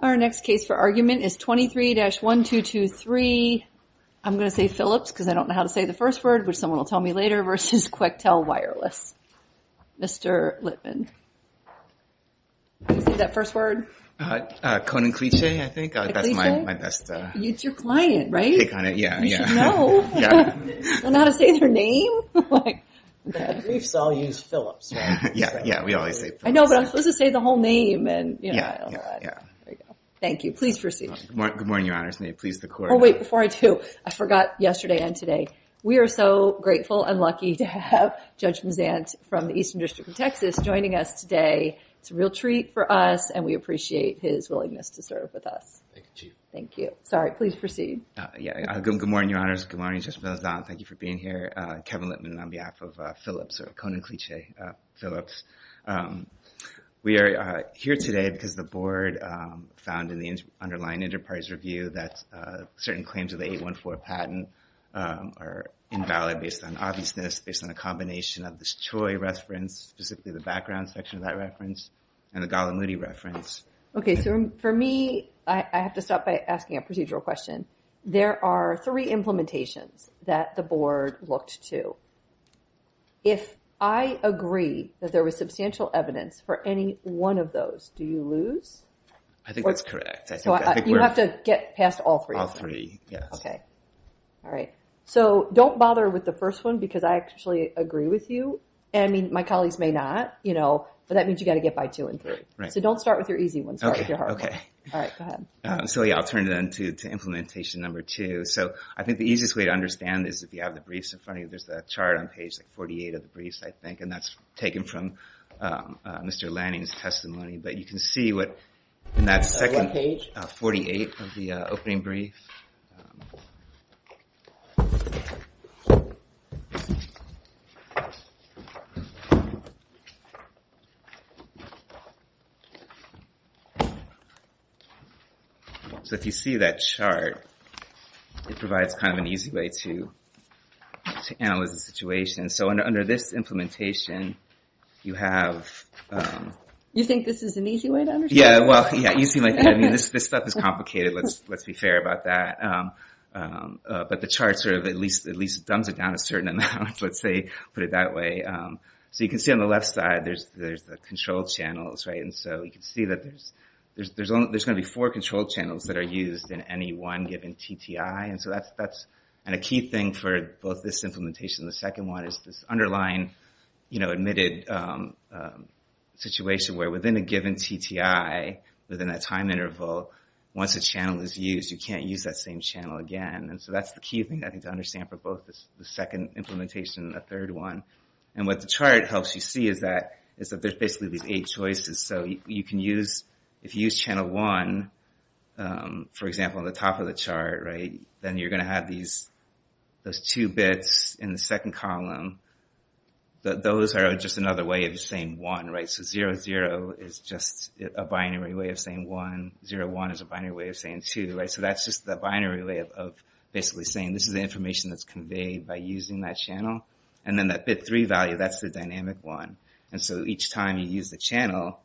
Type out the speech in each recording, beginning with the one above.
Our next case for argument is 23-1223. I'm gonna say Philips, because I don't know how to say the first word, which someone will tell me later, versus Quectel Wireless. Mr. Littman. How do you say that first word? Coninklijke, I think, that's my best. It's your client, right? Yeah, yeah. You should know. Yeah. Know how to say their name? Briefs all use Philips. Yeah, yeah, we always say Philips. I know, but I'm supposed to say the whole name, and I don't know how to. Thank you, please proceed. Good morning, your honors, may it please the court. Oh, wait, before I do, I forgot yesterday and today. We are so grateful and lucky to have Judge Mazant from the Eastern District of Texas joining us today. It's a real treat for us, and we appreciate his willingness to serve with us. Thank you. Sorry, please proceed. Yeah, good morning, your honors. Good morning, Judge Mazant. Thank you for being here. Kevin Littman on behalf of Philips, or Coninklijke Philips. We are here today because the board found in the underlying enterprise review that certain claims of the 814 patent are invalid based on obviousness, based on a combination of this Choi reference, specifically the background section of that reference, and the Gollum-Moody reference. Okay, so for me, I have to stop by asking a procedural question. There are three implementations that the board looked to. If I agree that there was substantial evidence for any one of those, do you lose? I think that's correct. You have to get past all three? All three, yes. Okay, all right. So don't bother with the first one because I actually agree with you, and I mean, my colleagues may not, but that means you gotta get by two and three. So don't start with your easy ones, start with your hard ones. All right, go ahead. So yeah, I'll turn it into implementation number two. So I think the easiest way to understand is if you have the briefs in front of you, there's a chart on page 48 of the briefs, I think, and that's taken from Mr. Lanning's testimony, but you can see what, in that second page, 48 of the opening brief. So if you see that chart, it provides kind of an easy way to analyze the situation. So under this implementation, you have... You think this is an easy way to understand? Yeah, well, yeah, you seem like, I mean, this stuff is complicated, let's be fair about that. But the chart sort of at least dumbs it down a certain amount, let's say, put it that way. So you can see on the left side, there's the control channels, right? And so you can see that there's gonna be four control channels that are used in any one given TTI. And so that's a key thing for both this implementation and the second one is this underlying admitted situation where within a given TTI, within a time interval, once a channel is used, you can't use that same channel again. And so that's the key thing, I think, to understand for both the second implementation and the third one. And what the chart helps you see is that there's basically these eight choices. So you can use, if you use channel one, for example, on the top of the chart, right? Then you're gonna have these, those two bits in the second column, that those are just another way of saying one, right? So zero zero is just a binary way of saying one, zero one is a binary way of saying two, right? So that's just the binary way of basically saying this is the information that's conveyed by using that channel. And then that bit three value, that's the dynamic one. And so each time you use the channel,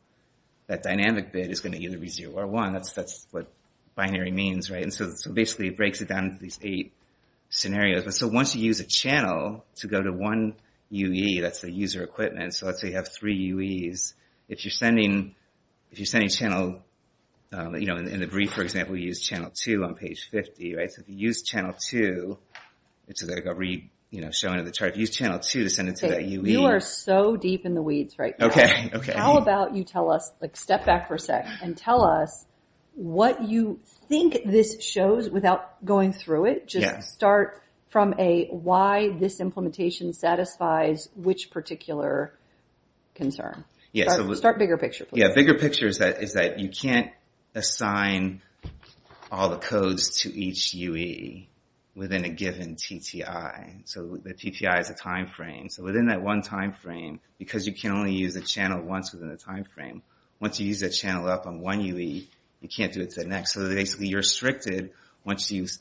that dynamic bit is gonna either be zero or one, that's what binary means, right? And so basically it breaks it down into these eight scenarios. But so once you use a channel to go to one UE, that's the user equipment. So let's say you have three UEs. If you're sending, if you're sending channel, in the brief, for example, you use channel two on page 50, right? So if you use channel two, it's gonna go read, showing in the chart, if you use channel two to send it to that UE. You are so deep in the weeds right now. Okay, okay. How about you tell us, like step back for a sec, and tell us what you think this shows without going through it. Just start from a why this implementation satisfies which particular concern. Start bigger picture, please. Yeah, bigger picture is that you can't assign all the codes to each UE within a given TTI. So the TTI is a timeframe. So within that one timeframe, because you can only use a channel once within a timeframe, once you use that channel up on one UE, you can't do it to the next. So basically you're restricted once you use,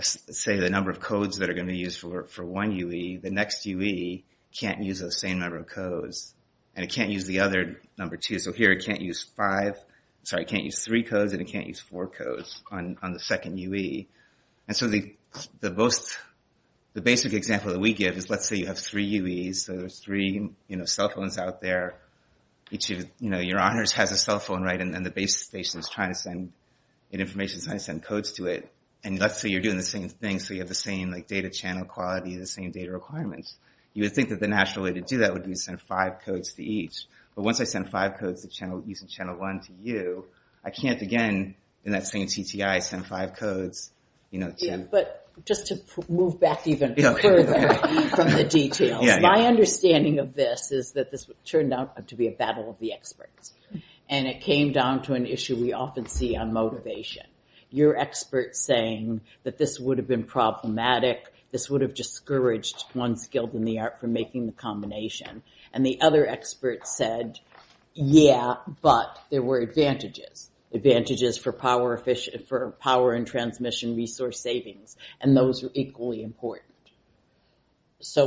say, the number of codes that are gonna be used for one UE. The next UE can't use the same number of codes. And it can't use the other number, too. So here it can't use five, sorry, it can't use three codes, and it can't use four codes on the second UE. And so the most, the basic example that we give is let's say you have three UEs. So there's three, you know, cell phones out there. Each of your honors has a cell phone, right? And the base station is trying to send information, trying to send codes to it. And let's say you're doing the same thing, so you have the same data channel quality, the same data requirements. You would think that the natural way to do that would be to send five codes to each. But once I send five codes using channel one to you, I can't, again, in that same TTI, send five codes, you know, to them. But just to move back even further from the details, my understanding of this is that this turned out to be a battle of the experts. And it came down to an issue we often see on motivation. Your expert saying that this would have been problematic, this would have discouraged one skilled in the art from making the combination. And the other expert said, yeah, but there were advantages. Advantages for power efficient, for power and transmission resource savings. And those are equally important. So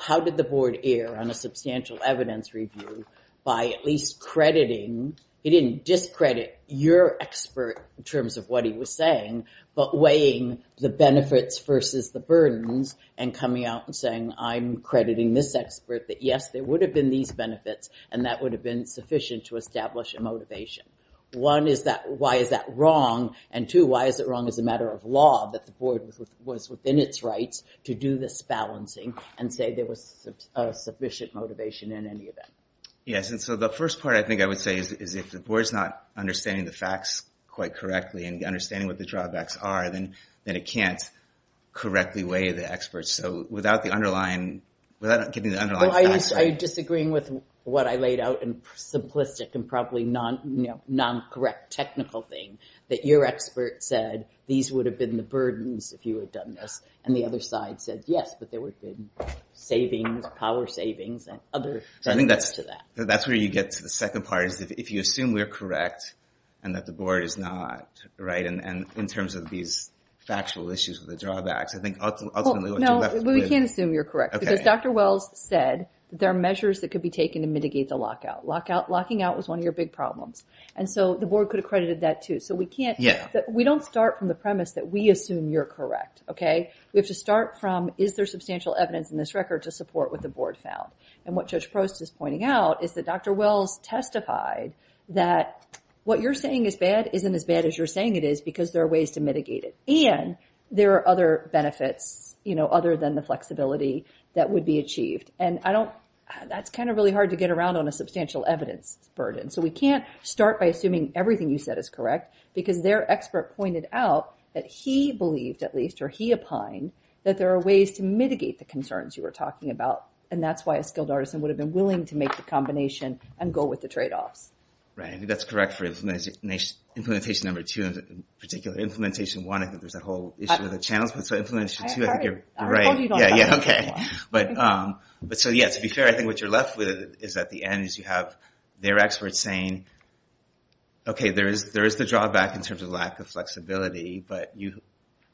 how did the board err on a substantial evidence review by at least crediting, it didn't discredit your expert in terms of what he was saying, but weighing the benefits versus the burdens and coming out and saying, I'm crediting this expert that yes, there would have been these benefits and that would have been sufficient to establish a motivation. One is that, why is that wrong? And two, why is it wrong as a matter of law that the board was within its rights to do this balancing and say there was a sufficient motivation in any event? Yes, and so the first part I think I would say is if the board is not understanding the facts quite correctly and understanding what the drawbacks are, then it can't correctly weigh the experts. So without the underlying, without getting the underlying facts. I disagreeing with what I laid out and simplistic and probably non-correct technical thing that your expert said, these would have been the burdens if you had done this. And the other side said, yes, but there would have been savings, power savings and other benefits to that. That's where you get to the second part is that if you assume we're correct and that the board is not, right? And in terms of these factual issues with the drawbacks, I think ultimately what you're left with- No, we can't assume you're correct because Dr. Wells said there are measures that could be taken to mitigate the lockout. Locking out was one of your big problems. And so the board could have credited that too. So we can't, we don't start from the premise that we assume you're correct, okay? We have to start from, is there substantial evidence in this record to support what the board found? And what Judge Prost is pointing out is that Dr. Wells testified that what you're saying is bad isn't as bad as you're saying it is because there are ways to mitigate it. And there are other benefits, other than the flexibility that would be achieved. And I don't, that's kind of really hard to get around on a substantial evidence burden. So we can't start by assuming everything you said is correct because their expert pointed out that he believed at least, or he opined, that there are ways to mitigate the concerns you were talking about. And that's why a skilled artisan would have been willing to make the combination and go with the trade-offs. Right, I think that's correct for implementation number two and in particular implementation one. I think there's that whole issue of the channels. But so implementation two, I think you're right. I told you you don't have to talk about it. Yeah, yeah, okay. But so yeah, to be fair, I think what you're left with is at the end is you have their experts saying, okay, there is the drawback in terms of lack of flexibility, but you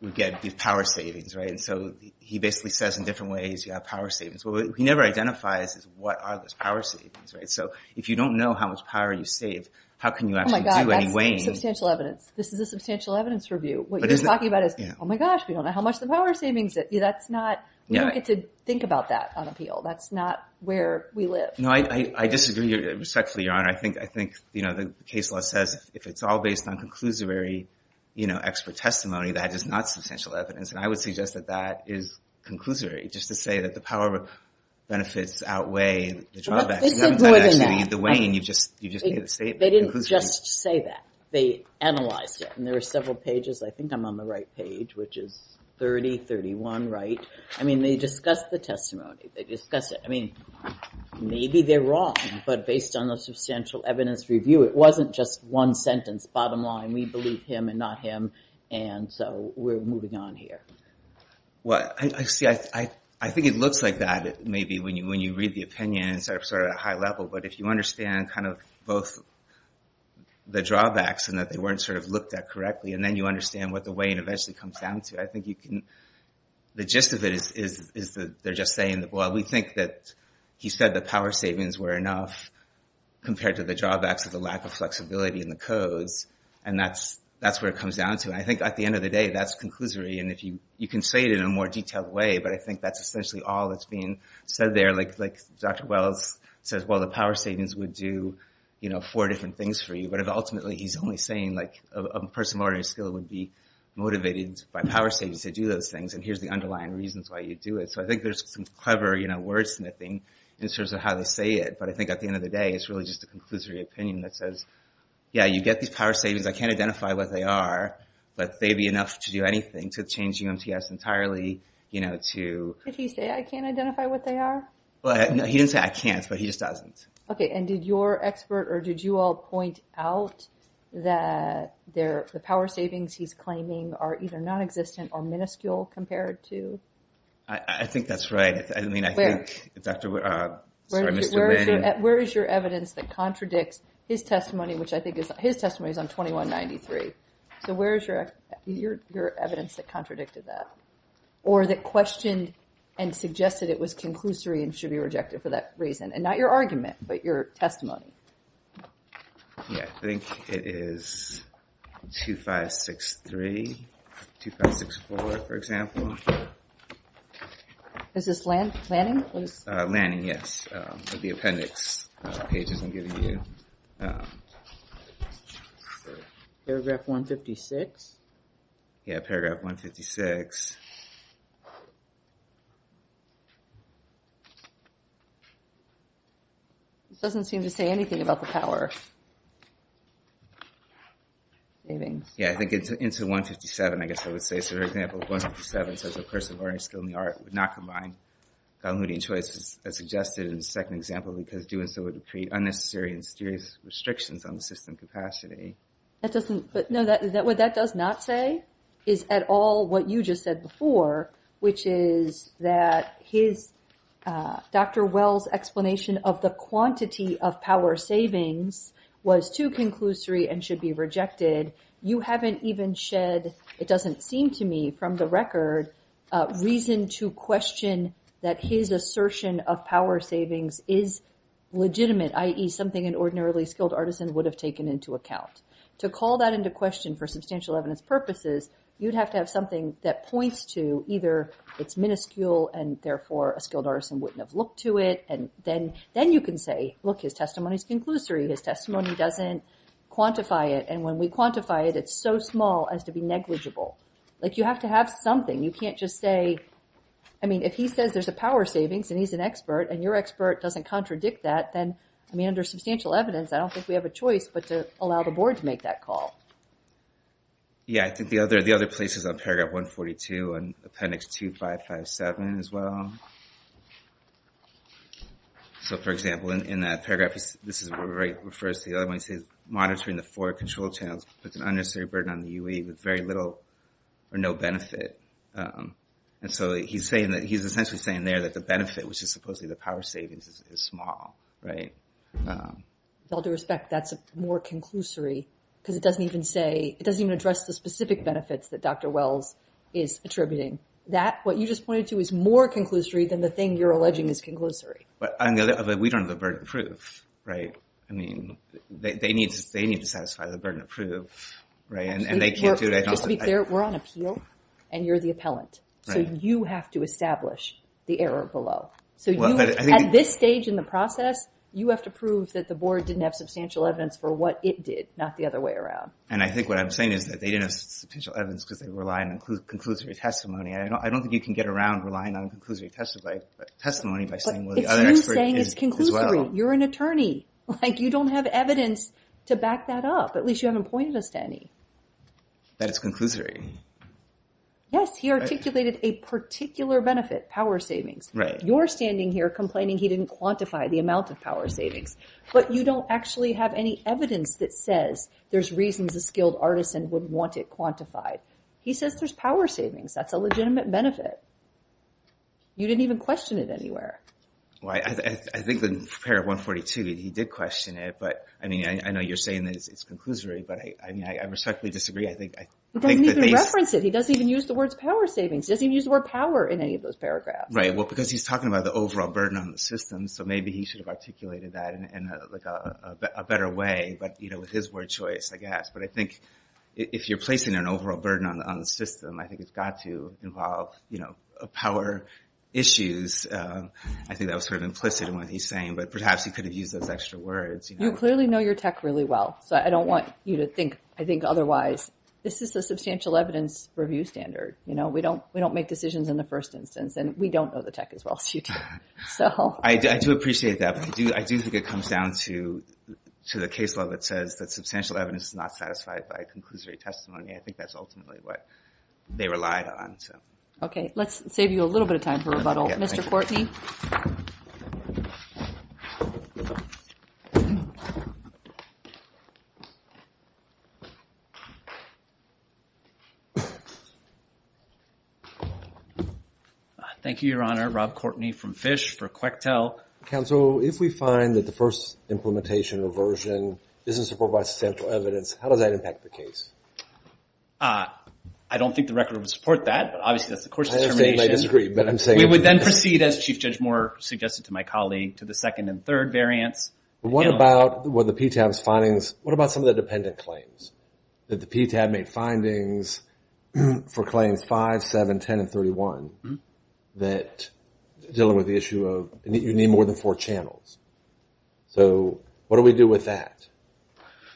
would get these power savings, right? And so he basically says in different ways you have power savings. But what he never identifies is what are those power savings, right? So if you don't know how much power you saved, how can you actually do any weighing? Oh my God, that's substantial evidence. This is a substantial evidence review. What you're talking about is, oh my gosh, we don't know how much the power savings, that's not, we don't get to think about that on appeal. That's not where we live. I disagree respectfully, Your Honor. I think the case law says if it's all based on conclusory expert testimony, that is not substantial evidence. And I would suggest that that is conclusory, just to say that the power benefits outweigh the drawbacks. This is more than that. The weighing, you just made a statement. They didn't just say that. They analyzed it, and there were several pages. I think I'm on the right page, which is 30, 31, right? I mean, they discussed the testimony. They discussed it. I mean, maybe they're wrong, but based on the substantial evidence review, it wasn't just one sentence. Bottom line, we believe him and not him, and so we're moving on here. Well, I see, I think it looks like that, maybe when you read the opinions, sort of at a high level, but if you understand kind of both the drawbacks and that they weren't sort of looked at correctly, and then you understand what the weighing eventually comes down to, I think you can, the gist of it is that they're just saying that, well, we think that he said the power savings were enough compared to the drawbacks of the lack of flexibility in the codes, and that's where it comes down to. I think at the end of the day, that's conclusory, and you can say it in a more detailed way, but I think that's essentially all that's being said there. Like Dr. Wells says, well, the power savings would do four different things for you, but ultimately, he's only saying, like, a person of ordinary skill would be motivated by power savings to do those things, and here's the underlying reasons why you'd do it. So I think there's some clever, you know, wordsmithing in terms of how to say it, but I think at the end of the day, it's really just a conclusory opinion that says, yeah, you get these power savings, I can't identify what they are, but they'd be enough to do anything, to change UMTS entirely, you know, to. Did he say, I can't identify what they are? Well, no, he didn't say I can't, but he just doesn't. Okay, and did your expert, or did you all point out that the power savings he's claiming are either nonexistent or minuscule compared to? I think that's right. I mean, I think, Dr., sorry, Mr. Vann. Where is your evidence that contradicts his testimony, which I think is, his testimony is on 2193. So where is your evidence that contradicted that? Or that questioned and suggested it was conclusory and should be rejected for that reason? And not your argument, but your testimony. Yeah, I think it is 2563, 2564, for example. Is this Lanning? Lanning, yes, of the appendix pages I'm giving you. Paragraph 156? Yeah, paragraph 156. It doesn't seem to say anything about the power savings. Yeah, I think it's into 157, I guess I would say. So for example, 157 says a person learning a skill in the art would not combine continuity and choices as suggested in the second example, because doing so would create unnecessary and serious restrictions on the system capacity. That doesn't, but no, what that does not say is at all what you just said before, which is that his, Dr. Wells' explanation of the quantity of power savings was too conclusory and should be rejected. You haven't even shed, it doesn't seem to me, from the record, reason to question that his assertion of power savings is legitimate, i.e. something an ordinarily skilled artisan would have taken into account. To call that into question for substantial evidence purposes, you'd have to have something that points to either it's minuscule and therefore a skilled artisan wouldn't have looked to it, and then you can say, look, his testimony's conclusory, his testimony doesn't quantify it, and when we quantify it, it's so small as to be negligible. Like, you have to have something, you can't just say, I mean, if he says there's a power savings and he's an expert, and your expert doesn't contradict that, then, I mean, under substantial evidence, I don't think we have a choice but to allow the board to make that call. Yeah, I think the other place is on paragraph 142 and appendix 2557 as well. So, for example, in that paragraph, this is where Wright refers to the other one, monitoring the four control channels puts an unnecessary burden on the UA with very little or no benefit. And so he's saying that, he's essentially saying there that the benefit, which is supposedly the power savings, is small, right? With all due respect, that's more conclusory because it doesn't even say, it doesn't even address the specific benefits that Dr. Wells is attributing. That, what you just pointed to, is more conclusory than the thing you're alleging is conclusory. But we don't have a burden of proof, right? I mean, they need to satisfy the burden of proof, right? And they can't do that. Just to be clear, we're on appeal and you're the appellant. So you have to establish the error below. So you, at this stage in the process, you have to prove that the board didn't have substantial evidence for what it did, not the other way around. And I think what I'm saying is that they didn't have substantial evidence because they rely on conclusory testimony. I don't think you can get around relying on conclusory testimony by saying, well, the other expert is as well. You're an attorney. Like, you don't have evidence to back that up. At least you haven't pointed us to any. That it's conclusory. Yes, he articulated a particular benefit, power savings. You're standing here complaining he didn't quantify the amount of power savings. But you don't actually have any evidence that says there's reasons a skilled artisan would want it quantified. He says there's power savings. That's a legitimate benefit. You didn't even question it anywhere. Well, I think the pair of 142, he did question it. But I mean, I know you're saying that it's conclusory. But I mean, I respectfully disagree. I think that they- He doesn't even reference it. He doesn't even use the words power savings. He doesn't even use the word power in any of those paragraphs. Right, well, because he's talking about the overall burden on the system. So maybe he should have articulated that in a better way, but with his word choice, I guess. But I think if you're placing an overall burden on the system, I think it's got to involve power issues and I think that was sort of implicit in what he's saying. But perhaps he could have used those extra words. You clearly know your tech really well. So I don't want you to think, I think, otherwise. This is the substantial evidence review standard. We don't make decisions in the first instance and we don't know the tech as well as you do. I do appreciate that, but I do think it comes down to the case law that says that substantial evidence is not satisfied by conclusory testimony. I think that's ultimately what they relied on. Okay, let's save you a little bit of time for rebuttal. Mr. Courtney. Thank you, Your Honor. Rob Courtney from FISH for QECTEL. Counsel, if we find that the first implementation or version isn't supported by substantial evidence, how does that impact the case? I don't think the record would support that, but obviously that's the court's determination. I'm not saying they disagree, but I'm saying that we would then proceed, as Chief Judge Moore suggested to my colleague, to the second and third variants. What about the PTAB's findings? What about some of the dependent claims? That the PTAB made findings for claims five, seven, 10, and 31 that dealing with the issue of you need more than four channels. So what do we do with that?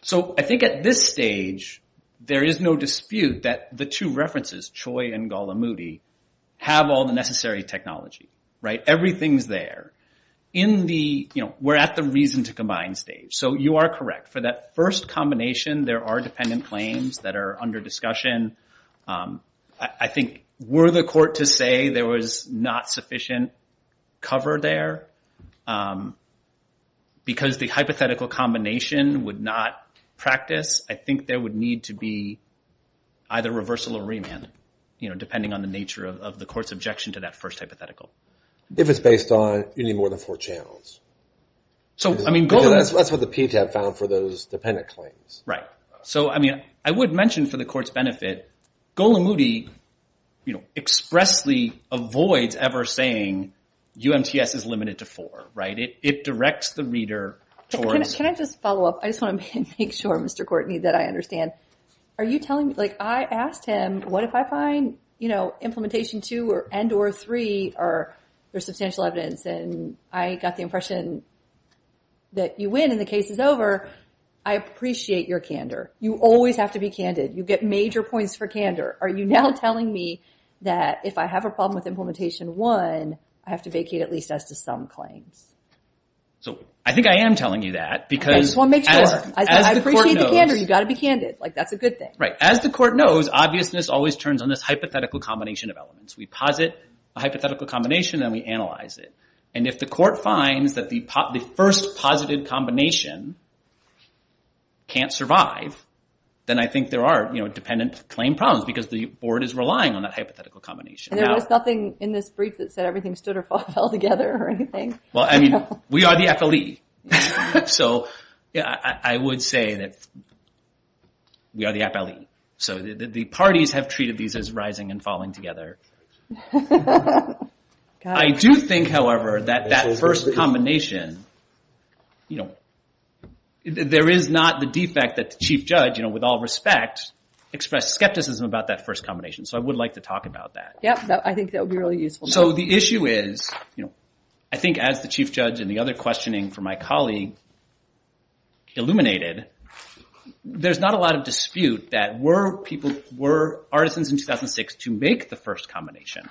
So I think at this stage, there is no dispute that the two references, Choi and Gallimudi, have all the necessary technology, right? Everything's there. In the, we're at the reason to combine stage. So you are correct. For that first combination, there are dependent claims that are under discussion. I think were the court to say there was not sufficient cover there, because the hypothetical combination would not practice, I think there would need to be either reversal or remand, depending on the nature of the court's objection to that first hypothetical. If it's based on, you need more than four channels. So, I mean, Gallimudi. That's what the PTAB found for those dependent claims. Right. So, I mean, I would mention for the court's benefit, Gallimudi expressly avoids ever saying UMTS is limited to four, right? It directs the reader towards. Can I just follow up? I just want to make sure, Mr. Courtney, that I understand. Are you telling me, like, I asked him, what if I find implementation two and or three are substantial evidence, and I got the impression that you win and the case is over, I appreciate your candor. You always have to be candid. You get major points for candor. Are you now telling me that if I have a problem with implementation one, I have to vacate at least as to some claims? So, I think I am telling you that, because I appreciate the candor, you gotta be candid. Like, that's a good thing. Right, as the court knows, obviousness always turns on this hypothetical combination of elements. We posit a hypothetical combination and we analyze it. And if the court finds that the first posited combination can't survive, then I think there are dependent claim problems, because the board is relying on that hypothetical combination. And there was nothing in this brief that said everything stood or fell together or anything? Well, I mean, we are the FLE. So, yeah, I would say that we are the FLE. So, the parties have treated these as rising and falling together. I do think, however, that that first combination, there is not the defect that the chief judge, with all respect, expressed skepticism about that first combination. So, I would like to talk about that. Yep, I think that would be really useful. So, the issue is, I think as the chief judge and the other questioning for my colleague illuminated, there's not a lot of dispute that were people, were artisans in 2006 to make the first combination?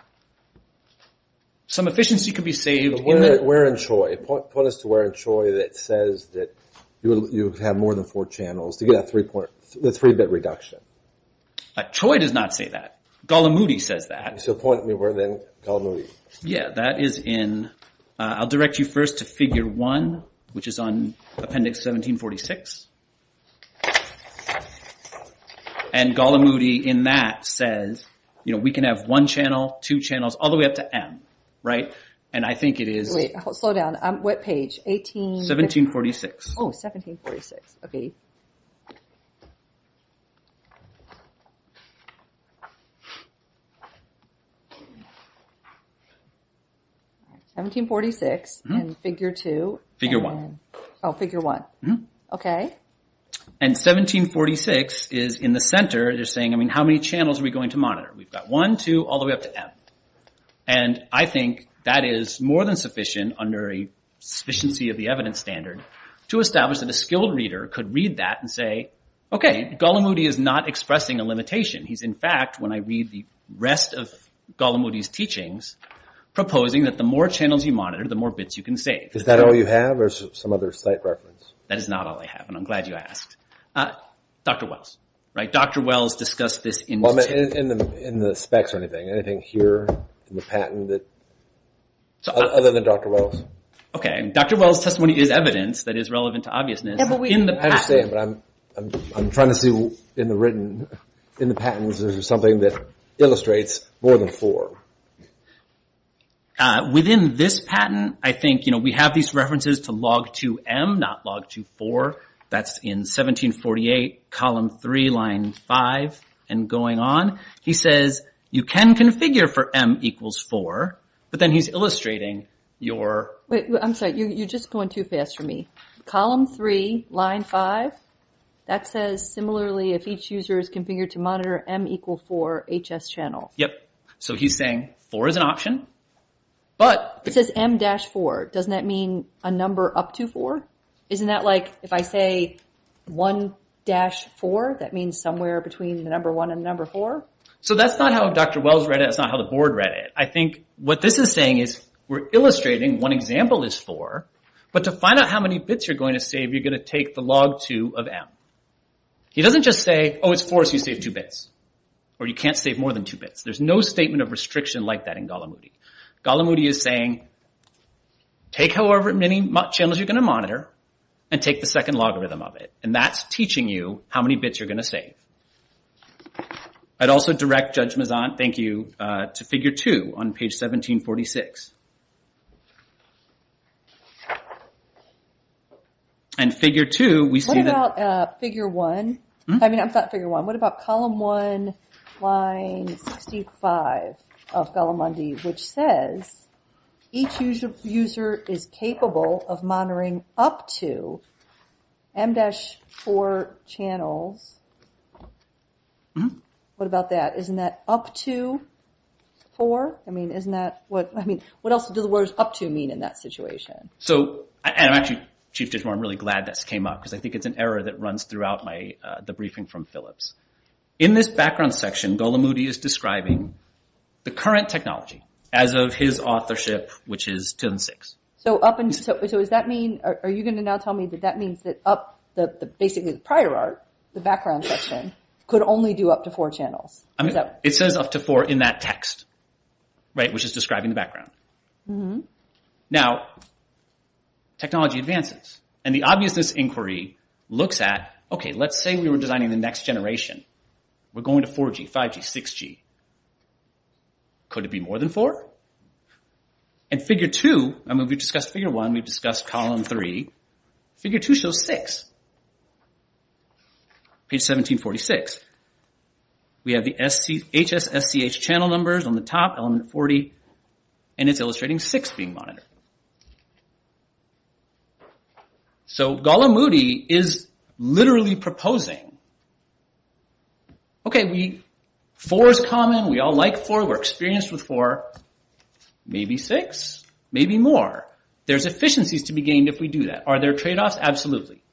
Some efficiency could be saved. Warren Choi, point us to Warren Choi that says that you have more than four channels to get a three-bit reduction. Choi does not say that. Golamudi says that. So, point me where then, Golamudi. Yeah, that is in, I'll direct you first to figure one, which is on appendix 1746. And Golamudi, in that, says, you know, we can have one channel, two channels, all the way up to M, right? And I think it is. Wait, slow down. What page, 18? 1746. Oh, 1746, okay. 1746, and figure two. Figure one. Oh, figure one. Okay. And 1746 is in the center. They're saying, I mean, how many channels are we going to monitor? We've got one, two, all the way up to M. And I think that is more than sufficient under a sufficiency of the evidence standard to establish that a skilled reader could read that and say, okay, Golamudi is not expressing a limitation. He's in fact, when I read the rest of Golamudi's teachings, proposing that the more channels you monitor, the more bits you can save. Is that all you have, or some other site reference? That is not all I have, and I'm glad you asked. Dr. Wells, right? Dr. Wells discussed this in the text. In the specs or anything, anything here in the patent that, other than Dr. Wells? Okay, Dr. Wells' testimony is evidence that is relevant to obviousness. I understand, but I'm trying to see in the written, in the patents, is there something that illustrates more than four? Within this patent, I think, you know, we have these references to log two M, not log two four. That's in 1748, column three, line five, and going on. He says, you can configure for M equals four, but then he's illustrating your... Wait, I'm sorry, you're just going too fast for me. Column three, line five, that says, similarly, if each user is configured to monitor M equal four, HS channel. Yep, so he's saying four is an option, but... It says M dash four. Doesn't that mean a number up to four? Isn't that like, if I say one dash four, that means somewhere between the number one and the number four? So that's not how Dr. Wells read it. That's not how the board read it. I think what this is saying is, we're illustrating one example is four, but to find out how many bits you're going to save, you're going to take the log two of M. He doesn't just say, oh, it's four, so you save two bits, or you can't save more than two bits. There's no statement of restriction like that in Gallimaudi. Gallimaudi is saying, take however many channels you're going to monitor, and take the second logarithm of it, and that's teaching you how many bits you're going to save. I'd also direct Judge Mezant, thank you, to figure two on page 1746. And figure two, we see that... What about figure one? I mean, not figure one. What about column one, line 65 of Gallimaudi, which says, each user is capable of monitoring up to M-4 channels. What about that? Isn't that up to four? I mean, what else do the words up to mean in that situation? So, and actually, Chief Judge Moore, I'm really glad this came up, because I think it's an error that runs throughout the briefing from Phillips. In this background section, Gallimaudi is describing the current technology as of his authorship, which is 10-6. So up until, so does that mean, are you going to now tell me that that means that up, basically the prior art, the background section, could only do up to four channels? It says up to four in that text, right, which is describing the background. Now, technology advances, and the obviousness inquiry looks at, okay, let's say we were designing the next generation. We're going to 4G, 5G, 6G. Could it be more than four? And figure two, I mean, we've discussed figure one, we've discussed column three. Figure two shows six. Page 1746, we have the HS SCH channel numbers on the top, element 40, and it's illustrating six being monitored. So Gallimaudi is literally proposing okay, four is common, we all like four, we're experienced with four, maybe six, maybe more. There's efficiencies to be gained if we do that. Are there trade-offs? Absolutely.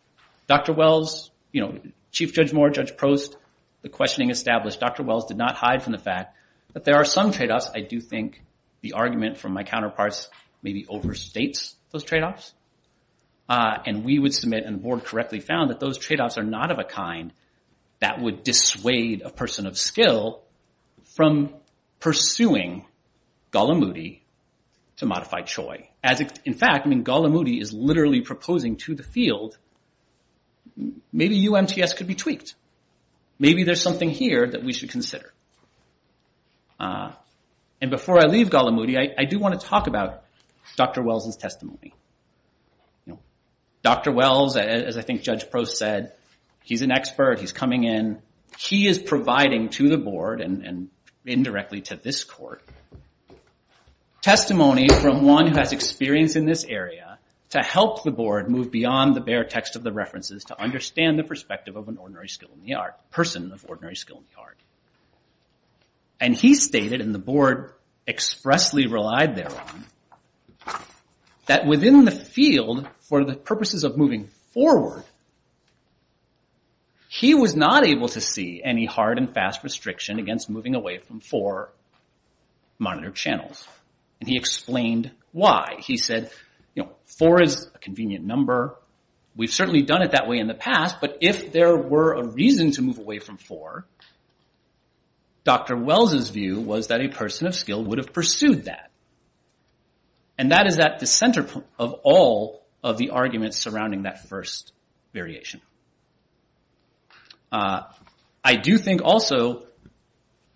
Dr. Wells, you know, Chief Judge Moore, Judge Prost, the questioning established, Dr. Wells did not hide from the fact that there are some trade-offs. I do think the argument from my counterparts maybe overstates those trade-offs. And we would submit, and the board correctly found, that those trade-offs are not of a kind that would dissuade a person of skill from pursuing Gallimaudi to modify CHOI. In fact, I mean, Gallimaudi is literally proposing to the field, maybe UMTS could be tweaked. Maybe there's something here that we should consider. And before I leave Gallimaudi, I do wanna talk about Dr. Wells' testimony. Dr. Wells, as I think Judge Prost said, he's an expert, he's coming in. He is providing to the board, and indirectly to this court, testimony from one who has experience in this area to help the board move beyond the bare text of the references to understand the perspective of an ordinary skill in the art, person of ordinary skill in the art. And he stated, and the board expressly relied there on, that within the field, for the purposes of moving forward, he was not able to see any hard and fast restriction against moving away from four monitored channels. And he explained why. He said, you know, four is a convenient number. We've certainly done it that way in the past, but if there were a reason to move away from four, Dr. Wells' view was that a person of skill would have pursued that. And that is at the center of all of the arguments surrounding that first variation. I do think also,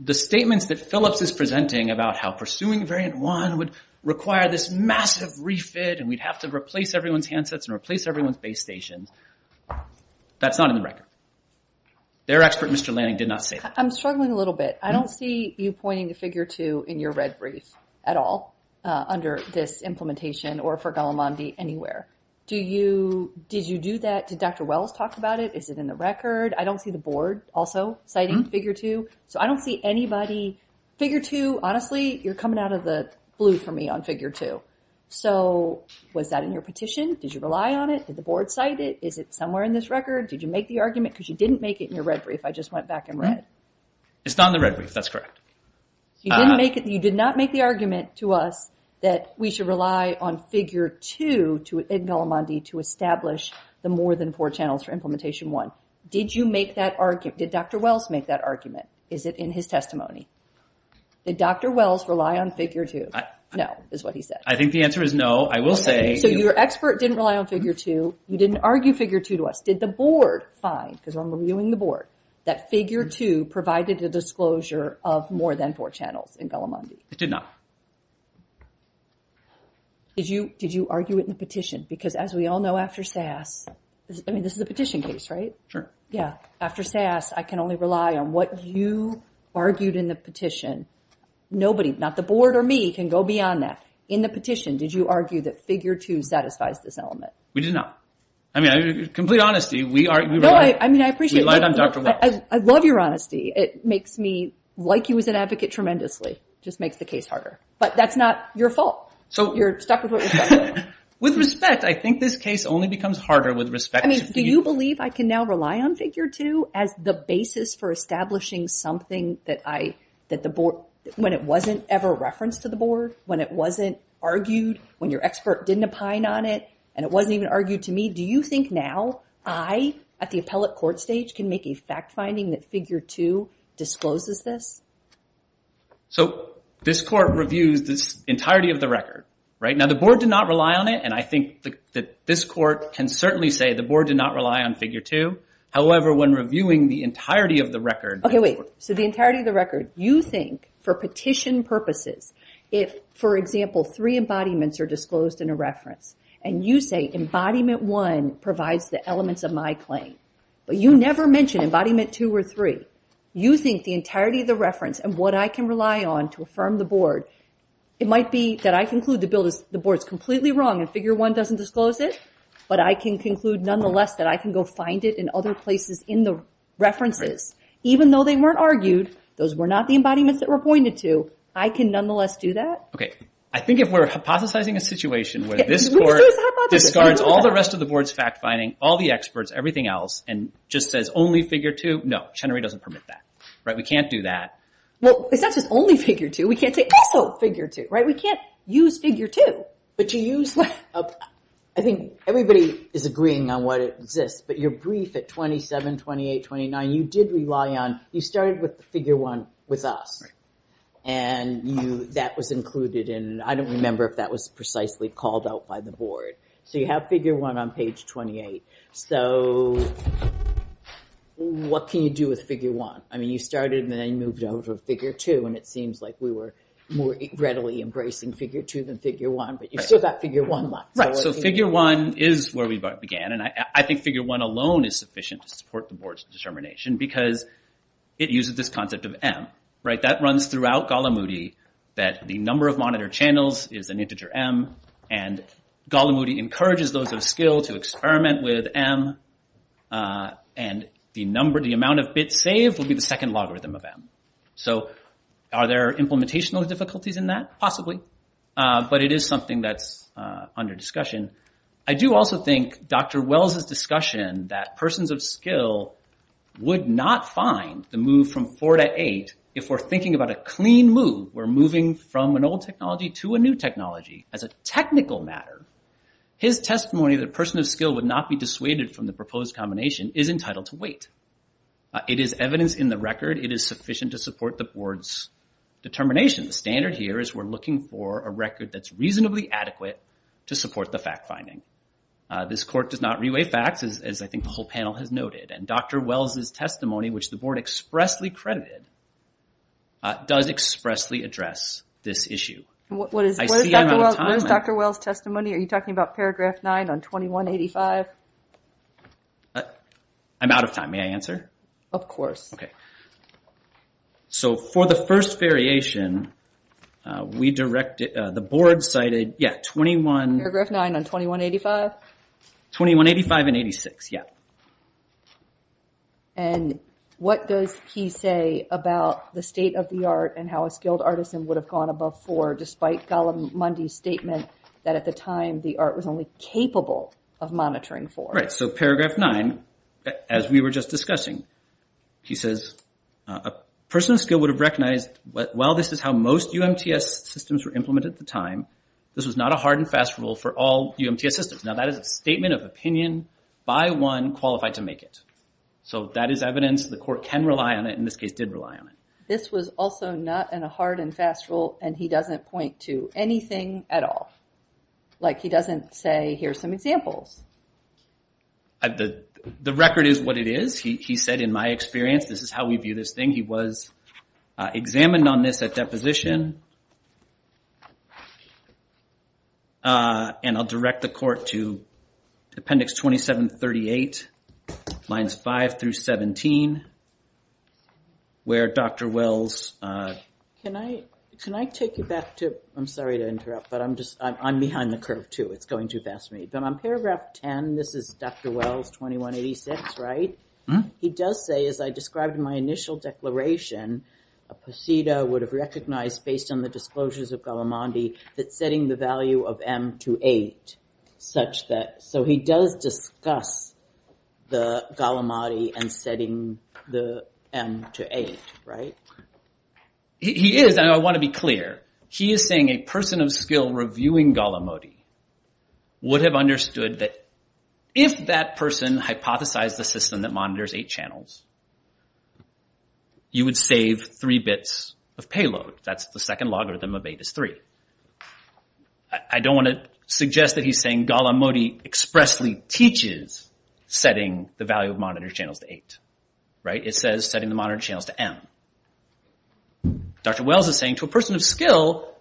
the statements that Phillips is presenting about how pursuing variant one would require this massive refit, and we'd have to replace everyone's handsets and replace everyone's base stations, that's not in the record. Their expert, Mr. Lanning, did not say that. I'm struggling a little bit. I don't see you pointing to figure two in your red brief at all, under this implementation, or for Gallimondi anywhere. Do you, did you do that? Did Dr. Wells talk about it? Is it in the record? I don't see the board also citing figure two. So I don't see anybody, figure two, honestly, you're coming out of the blue for me on figure two. So was that in your petition? Did you rely on it? Did the board cite it? Is it somewhere in this record? Did you make the argument? Because you didn't make it in your red brief. I just went back and read. It's not in the red brief, that's correct. You didn't make it, you did not make the argument to us that we should rely on figure two in Gallimondi to establish the more than four channels for implementation one. Did you make that argument? Did Dr. Wells make that argument? Is it in his testimony? Did Dr. Wells rely on figure two? No, is what he said. I think the answer is no, I will say. So your expert didn't rely on figure two. You didn't argue figure two to us. Did the board find, because I'm reviewing the board, that figure two provided a disclosure of more than four channels in Gallimondi? It did not. Did you argue it in the petition? Because as we all know after SAS, I mean, this is a petition case, right? Sure. Yeah, after SAS, I can only rely on what you argued in the petition. Nobody, not the board or me, can go beyond that. In the petition, did you argue that figure two satisfies this element? We did not. I mean, in complete honesty, we relied on Dr. Wells. I love your honesty. It makes me like you as an advocate tremendously. Just makes the case harder. But that's not your fault. So you're stuck with what was done. With respect, I think this case only becomes harder with respect to figure two. I mean, do you believe I can now rely on figure two as the basis for establishing something that the board, when it wasn't ever referenced to the board, when it wasn't argued, when your expert didn't opine on it, and it wasn't even argued to me, do you think now I, at the appellate court stage, can make a fact finding that figure two discloses this? So this court reviews this entirety of the record, right? Now, the board did not rely on it, and I think that this court can certainly say the board did not rely on figure two. However, when reviewing the entirety of the record- Okay, wait. So the entirety of the record, you think, for petition purposes, if, for example, three embodiments are disclosed in a reference, and you say embodiment one provides the elements of my claim, but you never mention embodiment two or three, you think the entirety of the reference and what I can rely on to affirm the board, it might be that I conclude the board's completely wrong and figure one doesn't disclose it, but I can conclude nonetheless that I can go find it in other places in the references. Even though they weren't argued, those were not the embodiments that were pointed to, I can nonetheless do that? Okay, I think if we're hypothesizing a situation where this court discards all the rest of the board's fact finding, all the experts, everything else, and just says only figure two, no, Chenerey doesn't permit that, right? We can't do that. Well, it's not just only figure two, we can't say also figure two, right? We can't use figure two. But you use, I think everybody is agreeing on what exists, but your brief at 27, 28, 29, you did rely on, you started with figure one with us, and that was included in, I don't remember if that was precisely called out by the board. So you have figure one on page 28. So what can you do with figure one? I mean, you started and then you moved over to figure two, and it seems like we were more readily embracing figure two than figure one, but you still got figure one left. Right, so figure one is where we began, and I think figure one alone is sufficient to support the board's determination because it uses this concept of M, right? That runs throughout Golomudy, that the number of monitor channels is an integer M, and Golomudy encourages those of skill to experiment with M, and the number, the amount of bits saved will be the second logarithm of M. So are there implementation difficulties in that? Possibly, but it is something that's under discussion. I do also think Dr. Wells' discussion that persons of skill would not find the move from four to eight if we're thinking about a clean move, we're moving from an old technology to a new technology. As a technical matter, his testimony that a person of skill would not be dissuaded from the proposed combination is entitled to wait. It is evidence in the record. It is sufficient to support the board's determination. The standard here is we're looking for a record that's reasonably adequate to support the fact-finding. This court does not reweigh facts, as I think the whole panel has noted, and Dr. Wells' testimony, which the board expressly credited, does expressly address this issue. I see I'm out of time. What is Dr. Wells' testimony? Are you talking about paragraph nine on 2185? I'm out of time. May I answer? Of course. Okay. So for the first variation, the board cited, yeah, 21- Paragraph nine on 2185? 2185 and 86, yeah. And what does he say about the state of the art and how a skilled artisan would have gone above four despite Gollum Mundy's statement that at the time the art was only capable of monitoring four? Right, so paragraph nine, as we were just discussing, he says, a person of skill would have recognized, while this is how most UMTS systems were implemented at the time, this was not a hard and fast rule for all UMTS systems. Now, that is a statement of opinion by one qualified to make it. So that is evidence. The court can rely on it, and this case did rely on it. This was also not a hard and fast rule, and he doesn't point to anything at all. Like, he doesn't say, here's some examples. The record is what it is. He said, in my experience, this is how we view this thing. He was examined on this at deposition. And I'll direct the court to appendix 2738, lines five through 17, where Dr. Wells- Can I take you back to, I'm sorry to interrupt, but I'm just, I'm behind the curve, too. It's going too fast for me, but on paragraph 10, this is Dr. Wells, 2186, right? He does say, as I described in my initial declaration, a poseda would have recognized, based on the disclosures of Gallimandi, that setting the value of M to eight, such that, so he does discuss the Gallimandi and setting the M to eight, right? He is, and I want to be clear, he is saying a person of skill reviewing Gallimandi would have understood that if that person hypothesized the system that monitors eight channels, you would save three bits of payload. That's the second logarithm of eight is three. I don't want to suggest that he's saying Gallimandi expressly teaches setting the value of monitor channels to eight, right? It says setting the monitor channels to M. Dr. Wells is saying, to a person of skill,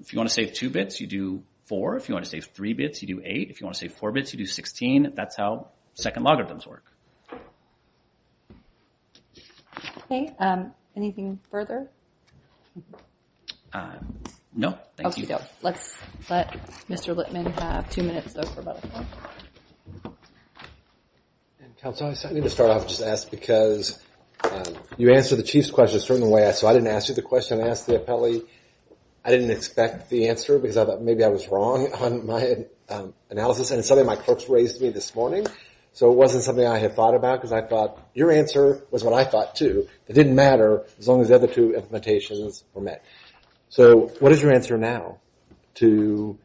if you want to save two bits, you do four. If you want to save three bits, you do eight. If you want to save four bits, you do 16. That's how second logarithms work. Okay, anything further? No, thank you. Let's let Mr. Littman have two minutes, though, for about a minute. Council, I need to start off, just ask, because you answered the chief's question a certain way, so I didn't ask you the question. I asked the appellee. I didn't expect the answer, because I thought maybe I was wrong on my analysis, and it's something my clerks raised to me this morning, so it wasn't something I had thought about, because I thought your answer was what I thought, too. It didn't matter, as long as the other two implementations were met. So what is your answer now to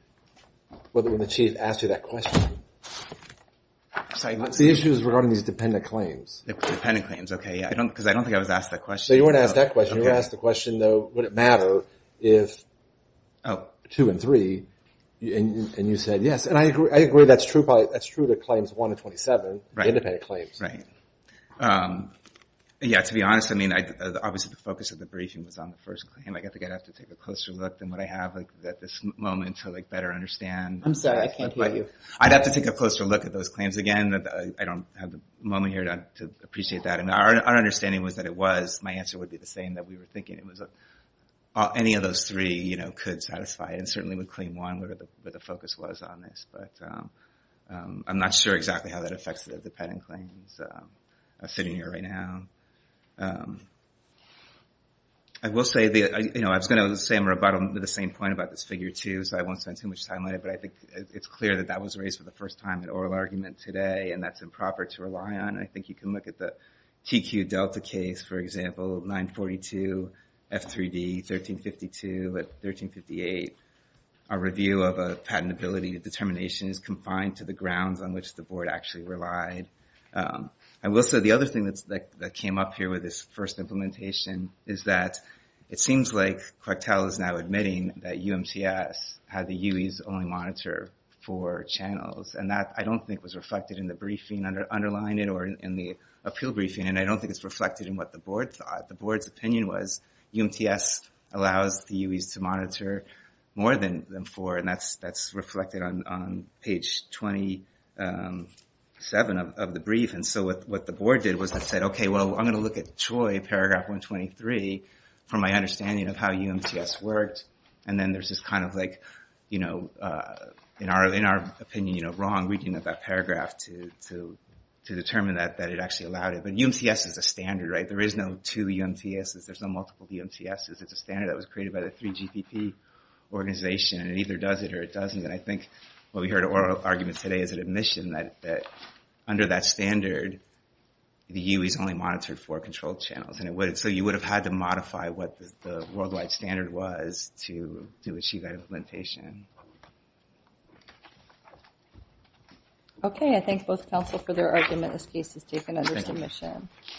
whether the chief asked you that question? The issue is regarding these dependent claims. Dependent claims, okay, yeah, because I don't think I was asked that question. So you weren't asked that question. You were asked the question, though, would it matter if two and three, and you said yes, and I agree that's true to claims one to 27, independent claims. Yeah, to be honest, I mean, obviously, the focus of the briefing was on the first claim. I think I'd have to take a closer look than what I have at this moment to better understand. I'm sorry, I can't hear you. I'd have to take a closer look at those claims. Again, I don't have the moment here to appreciate that, and our understanding was that it was, my answer would be the same, that we were thinking it was any of those three could satisfy, and certainly with claim one, where the focus was on this, but I'm not sure exactly how that affects the dependent claims I'm sitting here right now. I will say, I was gonna say I'm rebuttal to the same point about this figure, too, so I won't spend too much time on it, but I think it's clear that that was raised for the first time in oral argument today, and that's improper to rely on, and I think you can look at the TQ Delta case, for example, 942, F3D, 1352, 1358. A review of a patentability determination is confined to the grounds on which the board actually relied. I will say the other thing that came up here with this first implementation is that it seems like Quetel is now admitting that UMTS had the UEs only monitor four channels, and that, I don't think, was reflected in the briefing, underlying it, or in the appeal briefing, and I don't think it's reflected in what the board thought. The board's opinion was UMTS allows the UEs to monitor more than four, and that's reflected on page 27 of the brief, and so what the board did was it said, okay, well, I'm gonna look at CHOI, paragraph 123, from my understanding of how UMTS worked, and then there's this kind of, in our opinion, wrong reading of that paragraph to determine that it actually allowed it, but UMTS is a standard, right? There is no two UMTSs, there's no multiple UMTSs. It's a standard that was created by the 3GPP organization, and it either does it or it doesn't, and I think what we heard in oral argument today is an admission that under that standard, the UEs only monitored four control channels, and so you would have had to modify what the worldwide standard was to achieve that implementation. Okay, I thank both counsel for their argument. This case is taken under submission.